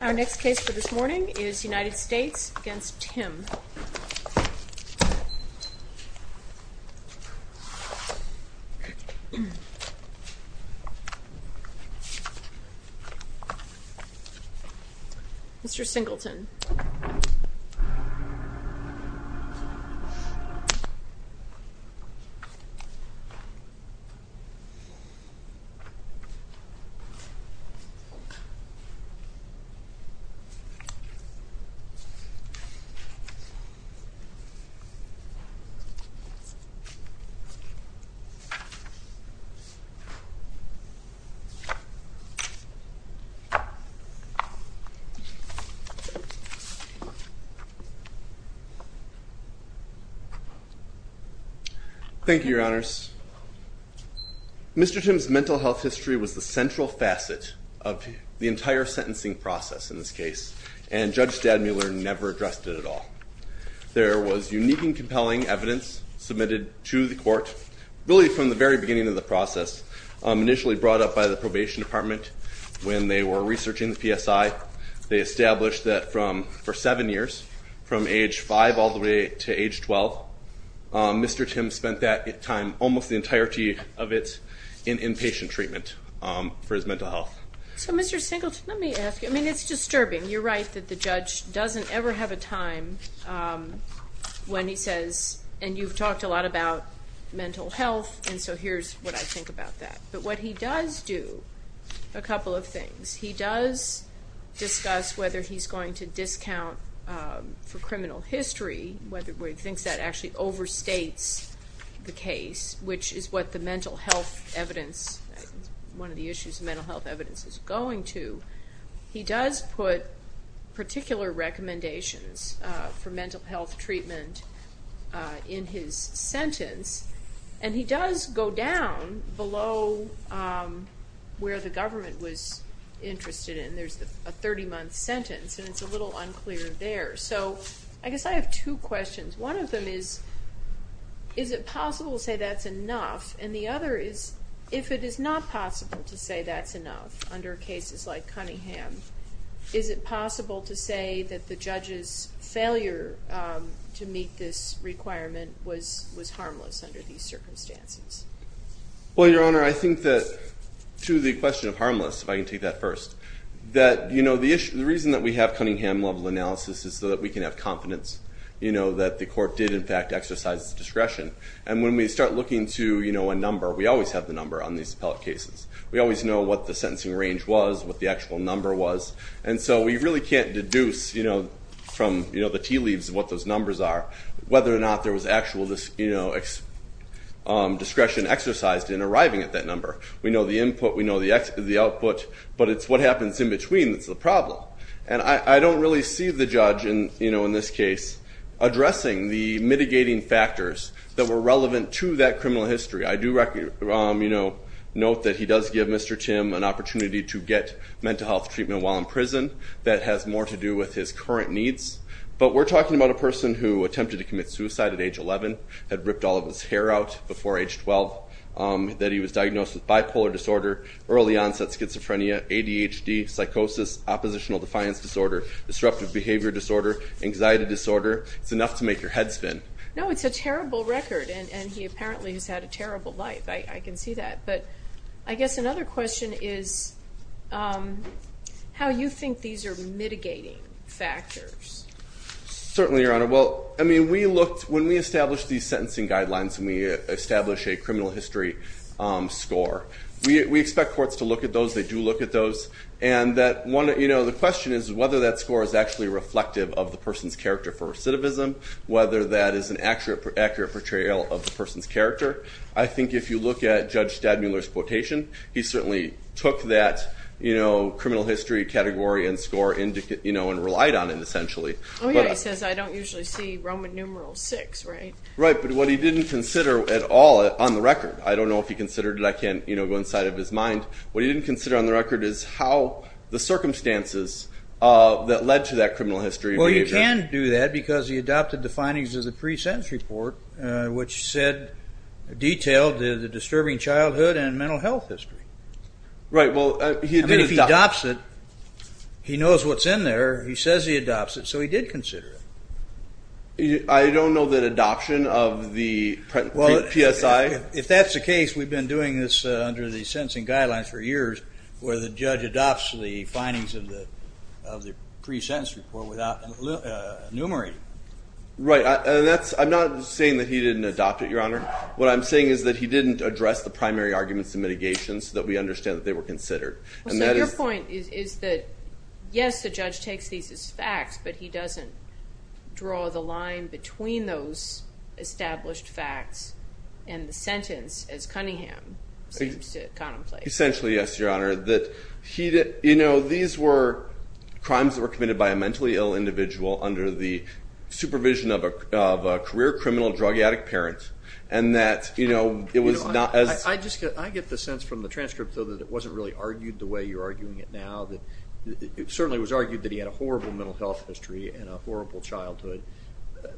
Our next case for this morning is United States v. Timm. Mr. Singleton. Mr. Timm's mental health history was the central facet of the entire sentencing process in this case, and Judge Stadmuller never addressed it at all. There was unique and compelling evidence submitted to the court, really from the very beginning of the process, initially brought up by the probation department when they were researching the PSI. They established that for seven years, from age five all the way to age 12, Mr. Timm spent that time, almost the entirety of it, in inpatient treatment for his mental health. So Mr. Singleton, let me ask you, I mean it's disturbing, you're right that the judge doesn't ever have a time when he says, and you've talked a lot about mental health, and so here's what I think about that. But what he does do, a couple of things. He does discuss whether he's going to discount for criminal history, whether he thinks that actually overstates the case, which is what the mental health evidence, one of the issues of mental health evidence is going to. He does put particular recommendations for mental health treatment in his sentence, and he does go down below where the government was interested in, there's a 30-month sentence, and it's a little unclear there. So I guess I have two questions. One of them is, is it possible to say that's enough, and the other is, if it is not possible to say that's enough, under cases like Cunningham, is it possible to say that the judge's failure to meet this requirement was harmless under these circumstances? Well, Your Honor, I think that to the question of harmless, if I can take that first, that you know, the reason that we have Cunningham-level analysis is so that we can have confidence, you know, that the court did in fact exercise discretion, and when we start looking to, you know, a number, we always have the number on these appellate cases. We always know what the sentencing range was, what the actual number was, and so we really can't deduce, you know, from, you know, the tea leaves what those numbers are, whether or not there was actual, you know, discretion exercised in arriving at that number. We know the input, we know the output, but it's what happens in between that's the problem. And I don't really see the judge, you know, in this case, addressing the mitigating factors that were relevant to that criminal history. I do, you know, note that he does give Mr. Tim an opportunity to get mental health treatment while in prison. That has more to do with his current needs. But we're talking about a person who attempted to commit suicide at age 11, had ripped all of his hair out before age 12, that he was diagnosed with bipolar disorder, early onset schizophrenia, ADHD, psychosis, oppositional defiance disorder, disruptive behavior disorder, anxiety disorder. It's enough to make your head spin. No, it's a terrible record, and he apparently has had a terrible life. I can see that. But I guess another question is how you think these are mitigating factors. Certainly, Your Honor, well, I mean, we looked, when we established these sentencing guidelines and we established a criminal history score, we expect courts to look at those. They do look at those. And that one, you know, the question is whether that score is actually reflective of the person's Whether that is an accurate portrayal of the person's character. I think if you look at Judge Stadmuller's quotation, he certainly took that criminal history category and score and relied on it, essentially. Oh, yeah. He says, I don't usually see Roman numeral six, right? Right. But what he didn't consider at all on the record, I don't know if he considered it. I can't go inside of his mind. What he didn't consider on the record is how the circumstances that led to that criminal history behavior. But he can do that because he adopted the findings of the pre-sentence report, which said, detailed the disturbing childhood and mental health history. Right. Well, I mean, if he adopts it, he knows what's in there. He says he adopts it. So he did consider it. I don't know the adoption of the PSI. If that's the case, we've been doing this under the sentencing guidelines for years where the judge adopts the findings of the pre-sentence report without enumerating it. Right. And I'm not saying that he didn't adopt it, Your Honor. What I'm saying is that he didn't address the primary arguments and mitigations so that we understand that they were considered. So your point is that, yes, the judge takes these as facts, but he doesn't draw the line between those established facts and the sentence, as Cunningham seems to contemplate. Essentially, yes, Your Honor. These were crimes that were committed by a mentally ill individual under the supervision of a career criminal drug addict parent, and that it was not as... I get the sense from the transcript, though, that it wasn't really argued the way you're arguing it now. It certainly was argued that he had a horrible mental health history and a horrible childhood,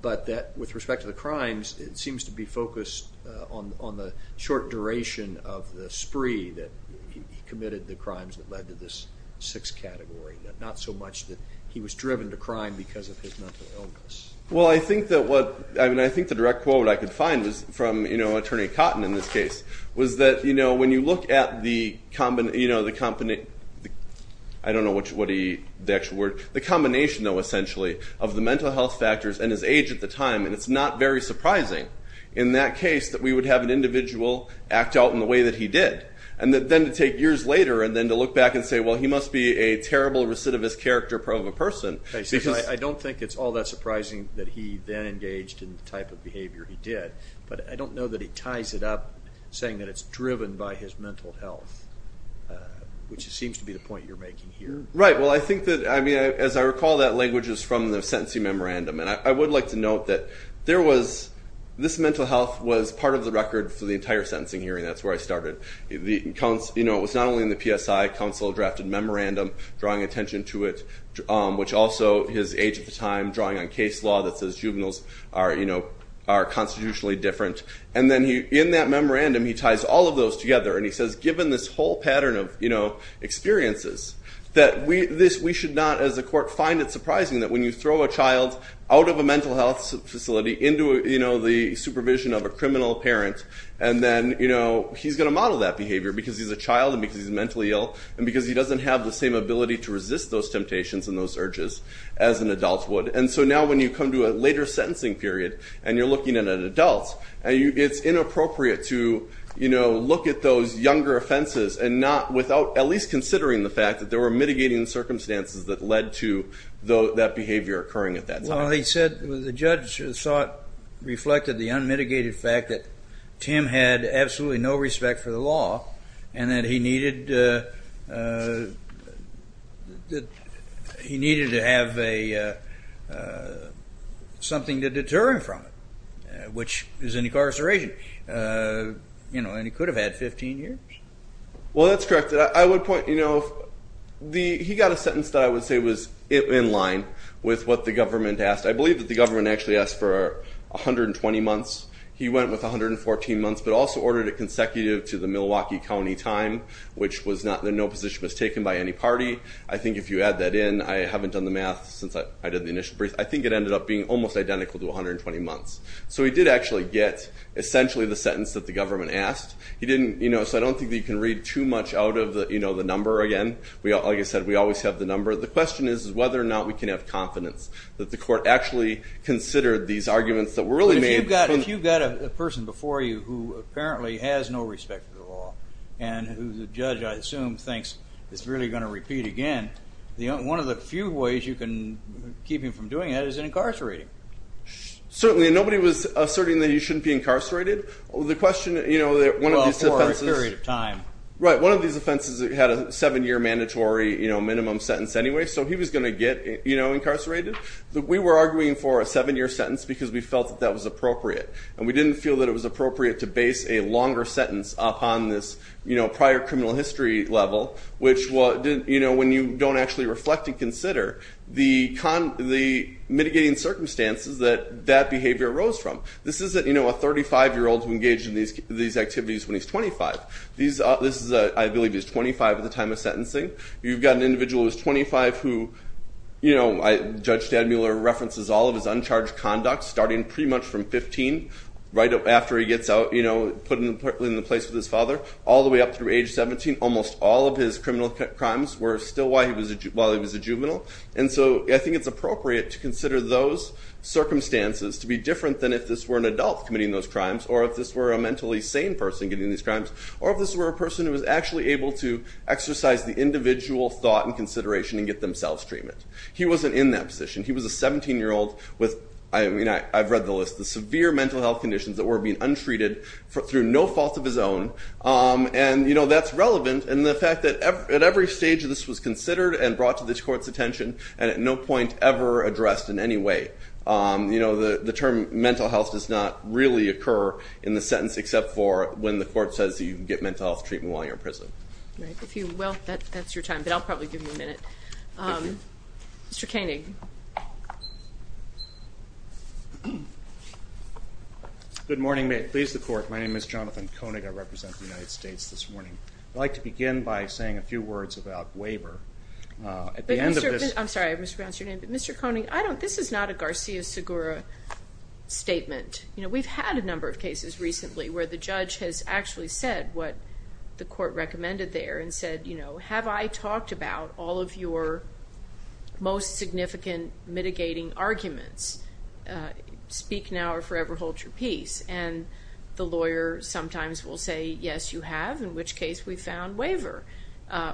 but that with respect to the crimes, it seems to be focused on the short duration of the time that he committed the crimes that led to this sixth category, not so much that he was driven to crime because of his mental illness. Well, I think that what... I mean, I think the direct quote I could find was from Attorney Cotton in this case, was that when you look at the... I don't know what the actual word... The combination, though, essentially, of the mental health factors and his age at the time, and it's not very surprising in that case that we would have an individual act out in a way that he did. And then to take years later, and then to look back and say, well, he must be a terrible recidivist character of a person, because... I don't think it's all that surprising that he then engaged in the type of behavior he did, but I don't know that he ties it up, saying that it's driven by his mental health, which seems to be the point you're making here. Right. Well, I think that... I mean, as I recall that language is from the sentencing memorandum, and I would like to note that there was... This mental health was part of the record for the entire sentencing hearing. That's where I started. It was not only in the PSI council-drafted memorandum, drawing attention to it, which also his age at the time, drawing on case law that says juveniles are constitutionally different. And then in that memorandum, he ties all of those together, and he says, given this whole pattern of experiences, that we should not, as a court, find it surprising that when you throw a child out of a mental health facility into the supervision of a criminal parent, and then he's going to model that behavior because he's a child and because he's mentally ill and because he doesn't have the same ability to resist those temptations and those urges as an adult would. And so now when you come to a later sentencing period and you're looking at an adult, it's inappropriate to look at those younger offenses and not without at least considering the fact that there were mitigating circumstances that led to that behavior occurring at that time. Well, he said the judge saw it reflected the unmitigated fact that Tim had absolutely no respect for the law, and that he needed to have something to deter him from it, which is an incarceration. And he could have had 15 years. Well, that's correct. I would point, you know, he got a sentence that I would say was in line with what the government actually asked. I believe that the government actually asked for 120 months. He went with 114 months, but also ordered it consecutive to the Milwaukee County time, which was not, no position was taken by any party. I think if you add that in, I haven't done the math since I did the initial brief, I think it ended up being almost identical to 120 months. So he did actually get essentially the sentence that the government asked. He didn't, you know, so I don't think that you can read too much out of, you know, the number again. Like I said, we always have the number. The question is whether or not we can have confidence that the court actually considered these arguments that were really made. If you've got a person before you who apparently has no respect for the law, and who the judge, I assume, thinks is really going to repeat again, one of the few ways you can keep him from doing that is incarcerating. Certainly. Nobody was asserting that he shouldn't be incarcerated. The question, you know, one of these offenses. Well, for a period of time. Right. One of these offenses had a seven-year mandatory, you know, minimum sentence anyway, so he was going to get, you know, incarcerated. We were arguing for a seven-year sentence because we felt that that was appropriate. And we didn't feel that it was appropriate to base a longer sentence upon this, you know, prior criminal history level, which, you know, when you don't actually reflect and consider, the mitigating circumstances that that behavior arose from. This isn't, you know, a 35-year-old who engaged in these activities when he's 25. This is, I believe, he's 25 at the time of sentencing. You've got an individual who's 25 who, you know, Judge Stadmuller references all of his uncharged conduct, starting pretty much from 15, right after he gets out, you know, put in the place with his father, all the way up through age 17. Almost all of his criminal crimes were still while he was a juvenile. And so I think it's appropriate to consider those circumstances to be different than if this were an adult committing those crimes, or if this were a mentally sane person getting these crimes, or if this were a person who was actually able to exercise the individual thought and consideration and get themselves treatment. He wasn't in that position. He was a 17-year-old with, I mean, I've read the list, the severe mental health conditions that were being untreated through no fault of his own. And you know, that's relevant. And the fact that at every stage, this was considered and brought to this court's attention and at no point ever addressed in any way. You know, the term mental health does not really occur in the sentence except for when the court says that you can get mental health treatment while you're in prison. Right. If you will, that's your time. But I'll probably give you a minute. Thank you. Mr. Koenig. Good morning. May it please the court. My name is Jonathan Koenig. I represent the United States this morning. I'd like to begin by saying a few words about waiver. At the end of this- I'm sorry. I mispronounced your name. But Mr. Koenig, I don't, this is not a Garcia-Segura statement. I don't know if you've heard of it. I don't know if you've heard of it. I don't know if you've heard of it. said what the court recommended there and said, you know, have I talked about all of your most significant mitigating arguments? Speak now or forever hold your peace. And the lawyer sometimes will say, yes, you have, in which case we found waiver.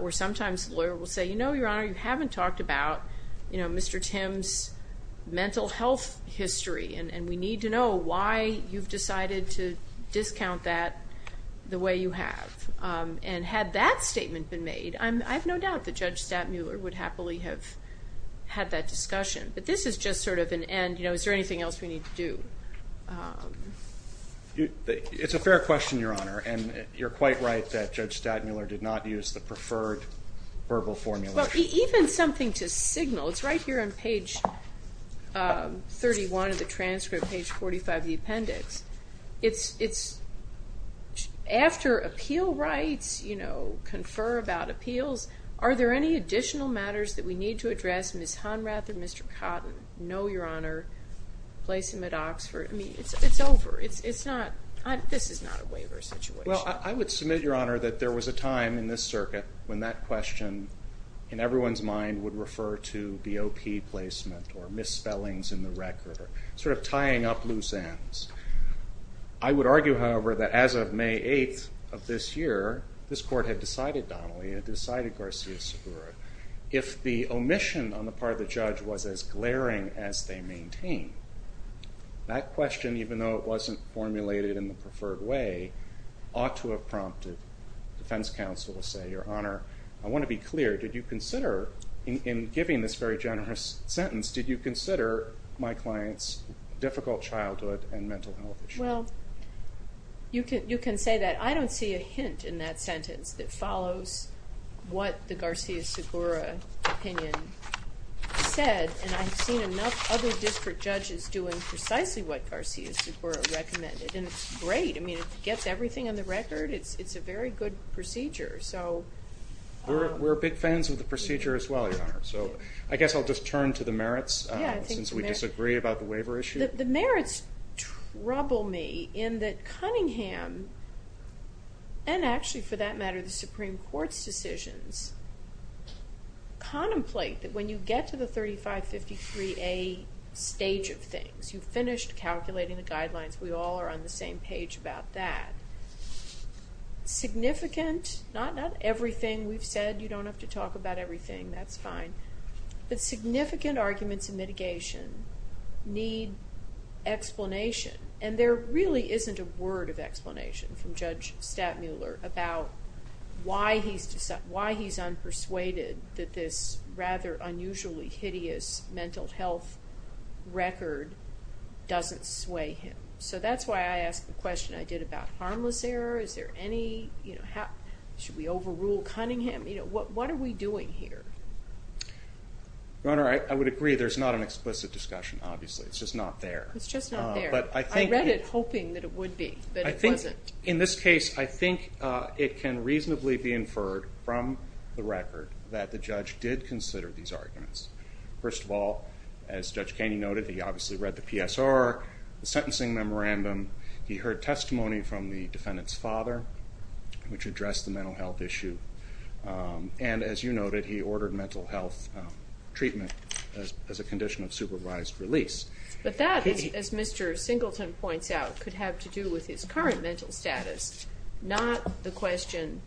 Or sometimes the lawyer will say, you know, Your Honor, you haven't talked about, you know, Mr. Tim's mental health history and we need to know why you've decided to discount that the way you have. And had that statement been made, I have no doubt that Judge Stadtmuller would happily have had that discussion. But this is just sort of an end, you know, is there anything else we need to do? It's a fair question, Your Honor, and you're quite right that Judge Stadtmuller did not use the preferred verbal formula. Even something to signal, it's right here on page 31 of the transcript, page 45 of the transcript. After appeal rights, you know, confer about appeals, are there any additional matters that we need to address, Ms. Honrath or Mr. Cotton? No, Your Honor. Placement at Oxford. I mean, it's over. It's not, this is not a waiver situation. Well, I would submit, Your Honor, that there was a time in this circuit when that question in everyone's mind would refer to BOP placement or misspellings in the record or sort of tying up loose ends. I would argue, however, that as of May 8th of this year, this court had decided, Donnelly, had decided Garcia-Segura, if the omission on the part of the judge was as glaring as they maintain, that question, even though it wasn't formulated in the preferred way, ought to have prompted defense counsel to say, Your Honor, I want to be clear. Did you consider, in giving this very generous sentence, did you consider my client's difficult childhood and mental health issue? Well, you can say that. I don't see a hint in that sentence that follows what the Garcia-Segura opinion said, and I've seen enough other district judges doing precisely what Garcia-Segura recommended, and it's great. I mean, it gets everything on the record. It's a very good procedure, so. We're big fans of the procedure as well, Your Honor, so I guess I'll just turn to the merits since we disagree about the waiver issue. The merits trouble me in that Cunningham, and actually for that matter the Supreme Court's decisions, contemplate that when you get to the 3553A stage of things, you've finished calculating the guidelines, we all are on the same page about that, significant, not everything we've said, you don't have to talk about everything, that's fine, but significant arguments in mitigation need explanation, and there really isn't a word of explanation from Judge Stattmuller about why he's unpersuaded that this rather unusually hideous mental health record doesn't sway him. So that's why I asked the question I did about harmless error, is there any, you know, should we overrule Cunningham, you know, what are we doing here? Your Honor, I would agree there's not an explicit discussion, obviously, it's just not there. It's just not there. I read it hoping that it would be, but it wasn't. In this case, I think it can reasonably be inferred from the record that the judge did consider these arguments. First of all, as Judge Kaney noted, he obviously read the PSR, the sentencing memorandum, he heard testimony from the defendant's father, which addressed the mental health issue, and as you noted, he ordered mental health treatment as a condition of supervised release. But that, as Mr. Singleton points out, could have to do with his current mental status, not the question,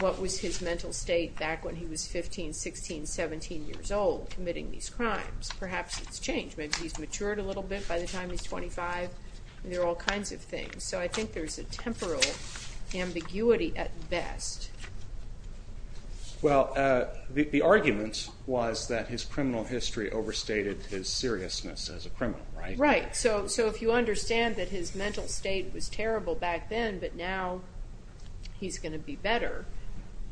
what was his mental state back when he was 15, 16, 17 years old committing these crimes. Perhaps it's changed. Maybe he's matured a little bit by the time he's 25, and there are all kinds of things. So I think there's a temporal ambiguity at best. Well, the argument was that his criminal history overstated his seriousness as a criminal, right? Right. So if you understand that his mental state was terrible back then, but now he's going to be better,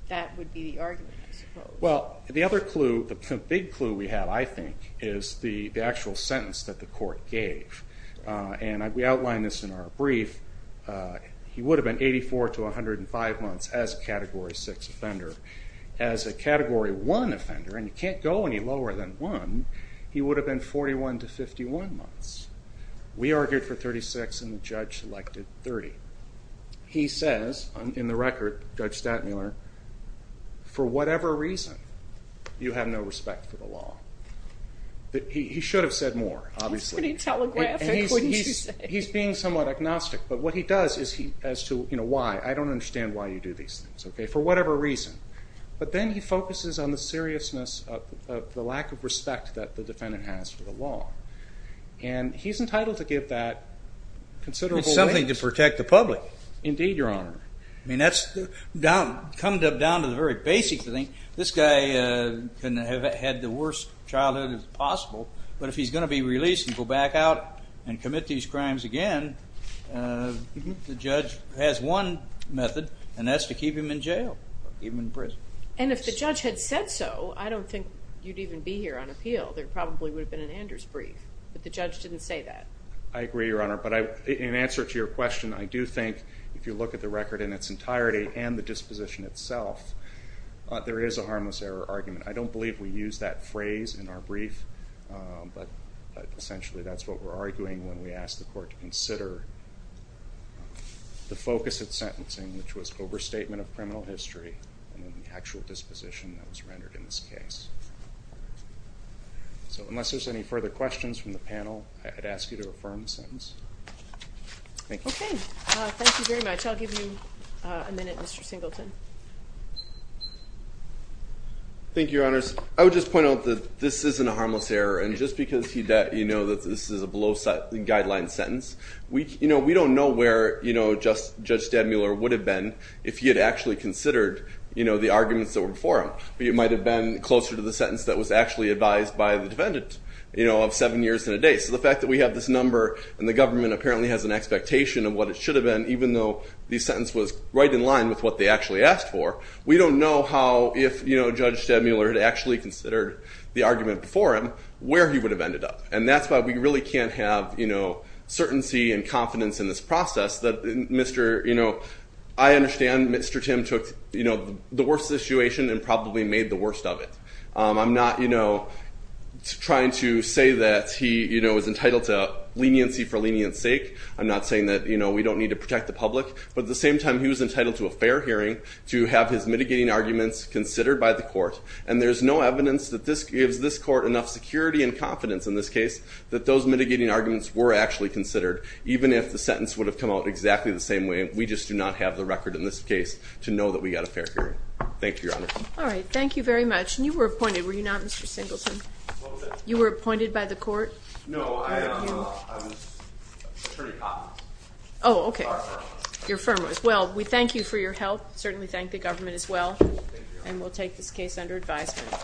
that would be the argument, I suppose. Well, the other clue, the big clue we have, I think, is the actual sentence that the court gave. And we outlined this in our brief. He would have been 84 to 105 months as a Category 6 offender. As a Category 1 offender, and you can't go any lower than 1, he would have been 41 to 51 months. We argued for 36, and the judge elected 30. He says, in the record, Judge Stattmuller, for whatever reason, you have no respect for the law. He should have said more, obviously. That's pretty telegraphic. What did you say? He's being somewhat agnostic, but what he does is he, as to why, I don't understand why you do these things, for whatever reason. But then he focuses on the seriousness of the lack of respect that the defendant has for the law. And he's entitled to give that considerable weight. It's something to protect the public. Indeed, Your Honor. I mean, that's coming down to the very basic thing. This guy can have had the worst childhood as possible, but if he's going to be released and go back out and commit these crimes again, the judge has one method, and that's to keep him in jail or keep him in prison. And if the judge had said so, I don't think you'd even be here on appeal. There probably would have been an Anders brief, but the judge didn't say that. I agree, Your Honor. But in answer to your question, I do think, if you look at the record in its entirety and the disposition itself, there is a harmless error argument. I don't believe we use that phrase in our brief, but essentially that's what we're arguing when we ask the court to consider the focus of sentencing, which was overstatement of criminal history and then the actual disposition that was rendered in this case. So unless there's any further questions from the panel, I'd ask you to affirm the sentence. Thank you. Okay. Thank you very much. I'll give you a minute, Mr. Singleton. Thank you, Your Honors. I would just point out that this isn't a harmless error, and just because this is a below guideline sentence, we don't know where Judge Stadmuller would have been if he had actually considered the arguments that were before him, but it might have been closer to the sentence that was actually advised by the defendant of seven years and a day. So the fact that we have this number and the government apparently has an expectation of what it should have been, even though the sentence was right in line with what they actually asked for, we don't know how, if Judge Stadmuller had actually considered the argument before him, where he would have ended up. And that's why we really can't have certainty and confidence in this process. I understand Mr. Tim took the worst situation and probably made the worst of it. I'm not trying to say that he was entitled to leniency for leniency's sake. I'm not saying that we don't need to protect the public. But at the same time, he was entitled to a fair hearing, to have his mitigating arguments considered by the court, and there's no evidence that this gives this court enough security and confidence in this case that those mitigating arguments were actually considered, even if the sentence would have come out exactly the same way. We just do not have the record in this case to know that we got a fair hearing. Thank you, Your Honor. All right. Thank you very much. And you were appointed, were you not, Mr. Singleton? A little bit. You were appointed by the court? No, I was Attorney Commons. Oh, okay. Your firm was. Your firm was. Well, we thank you for your help. We certainly thank the government as well, and we'll take this case under advisement.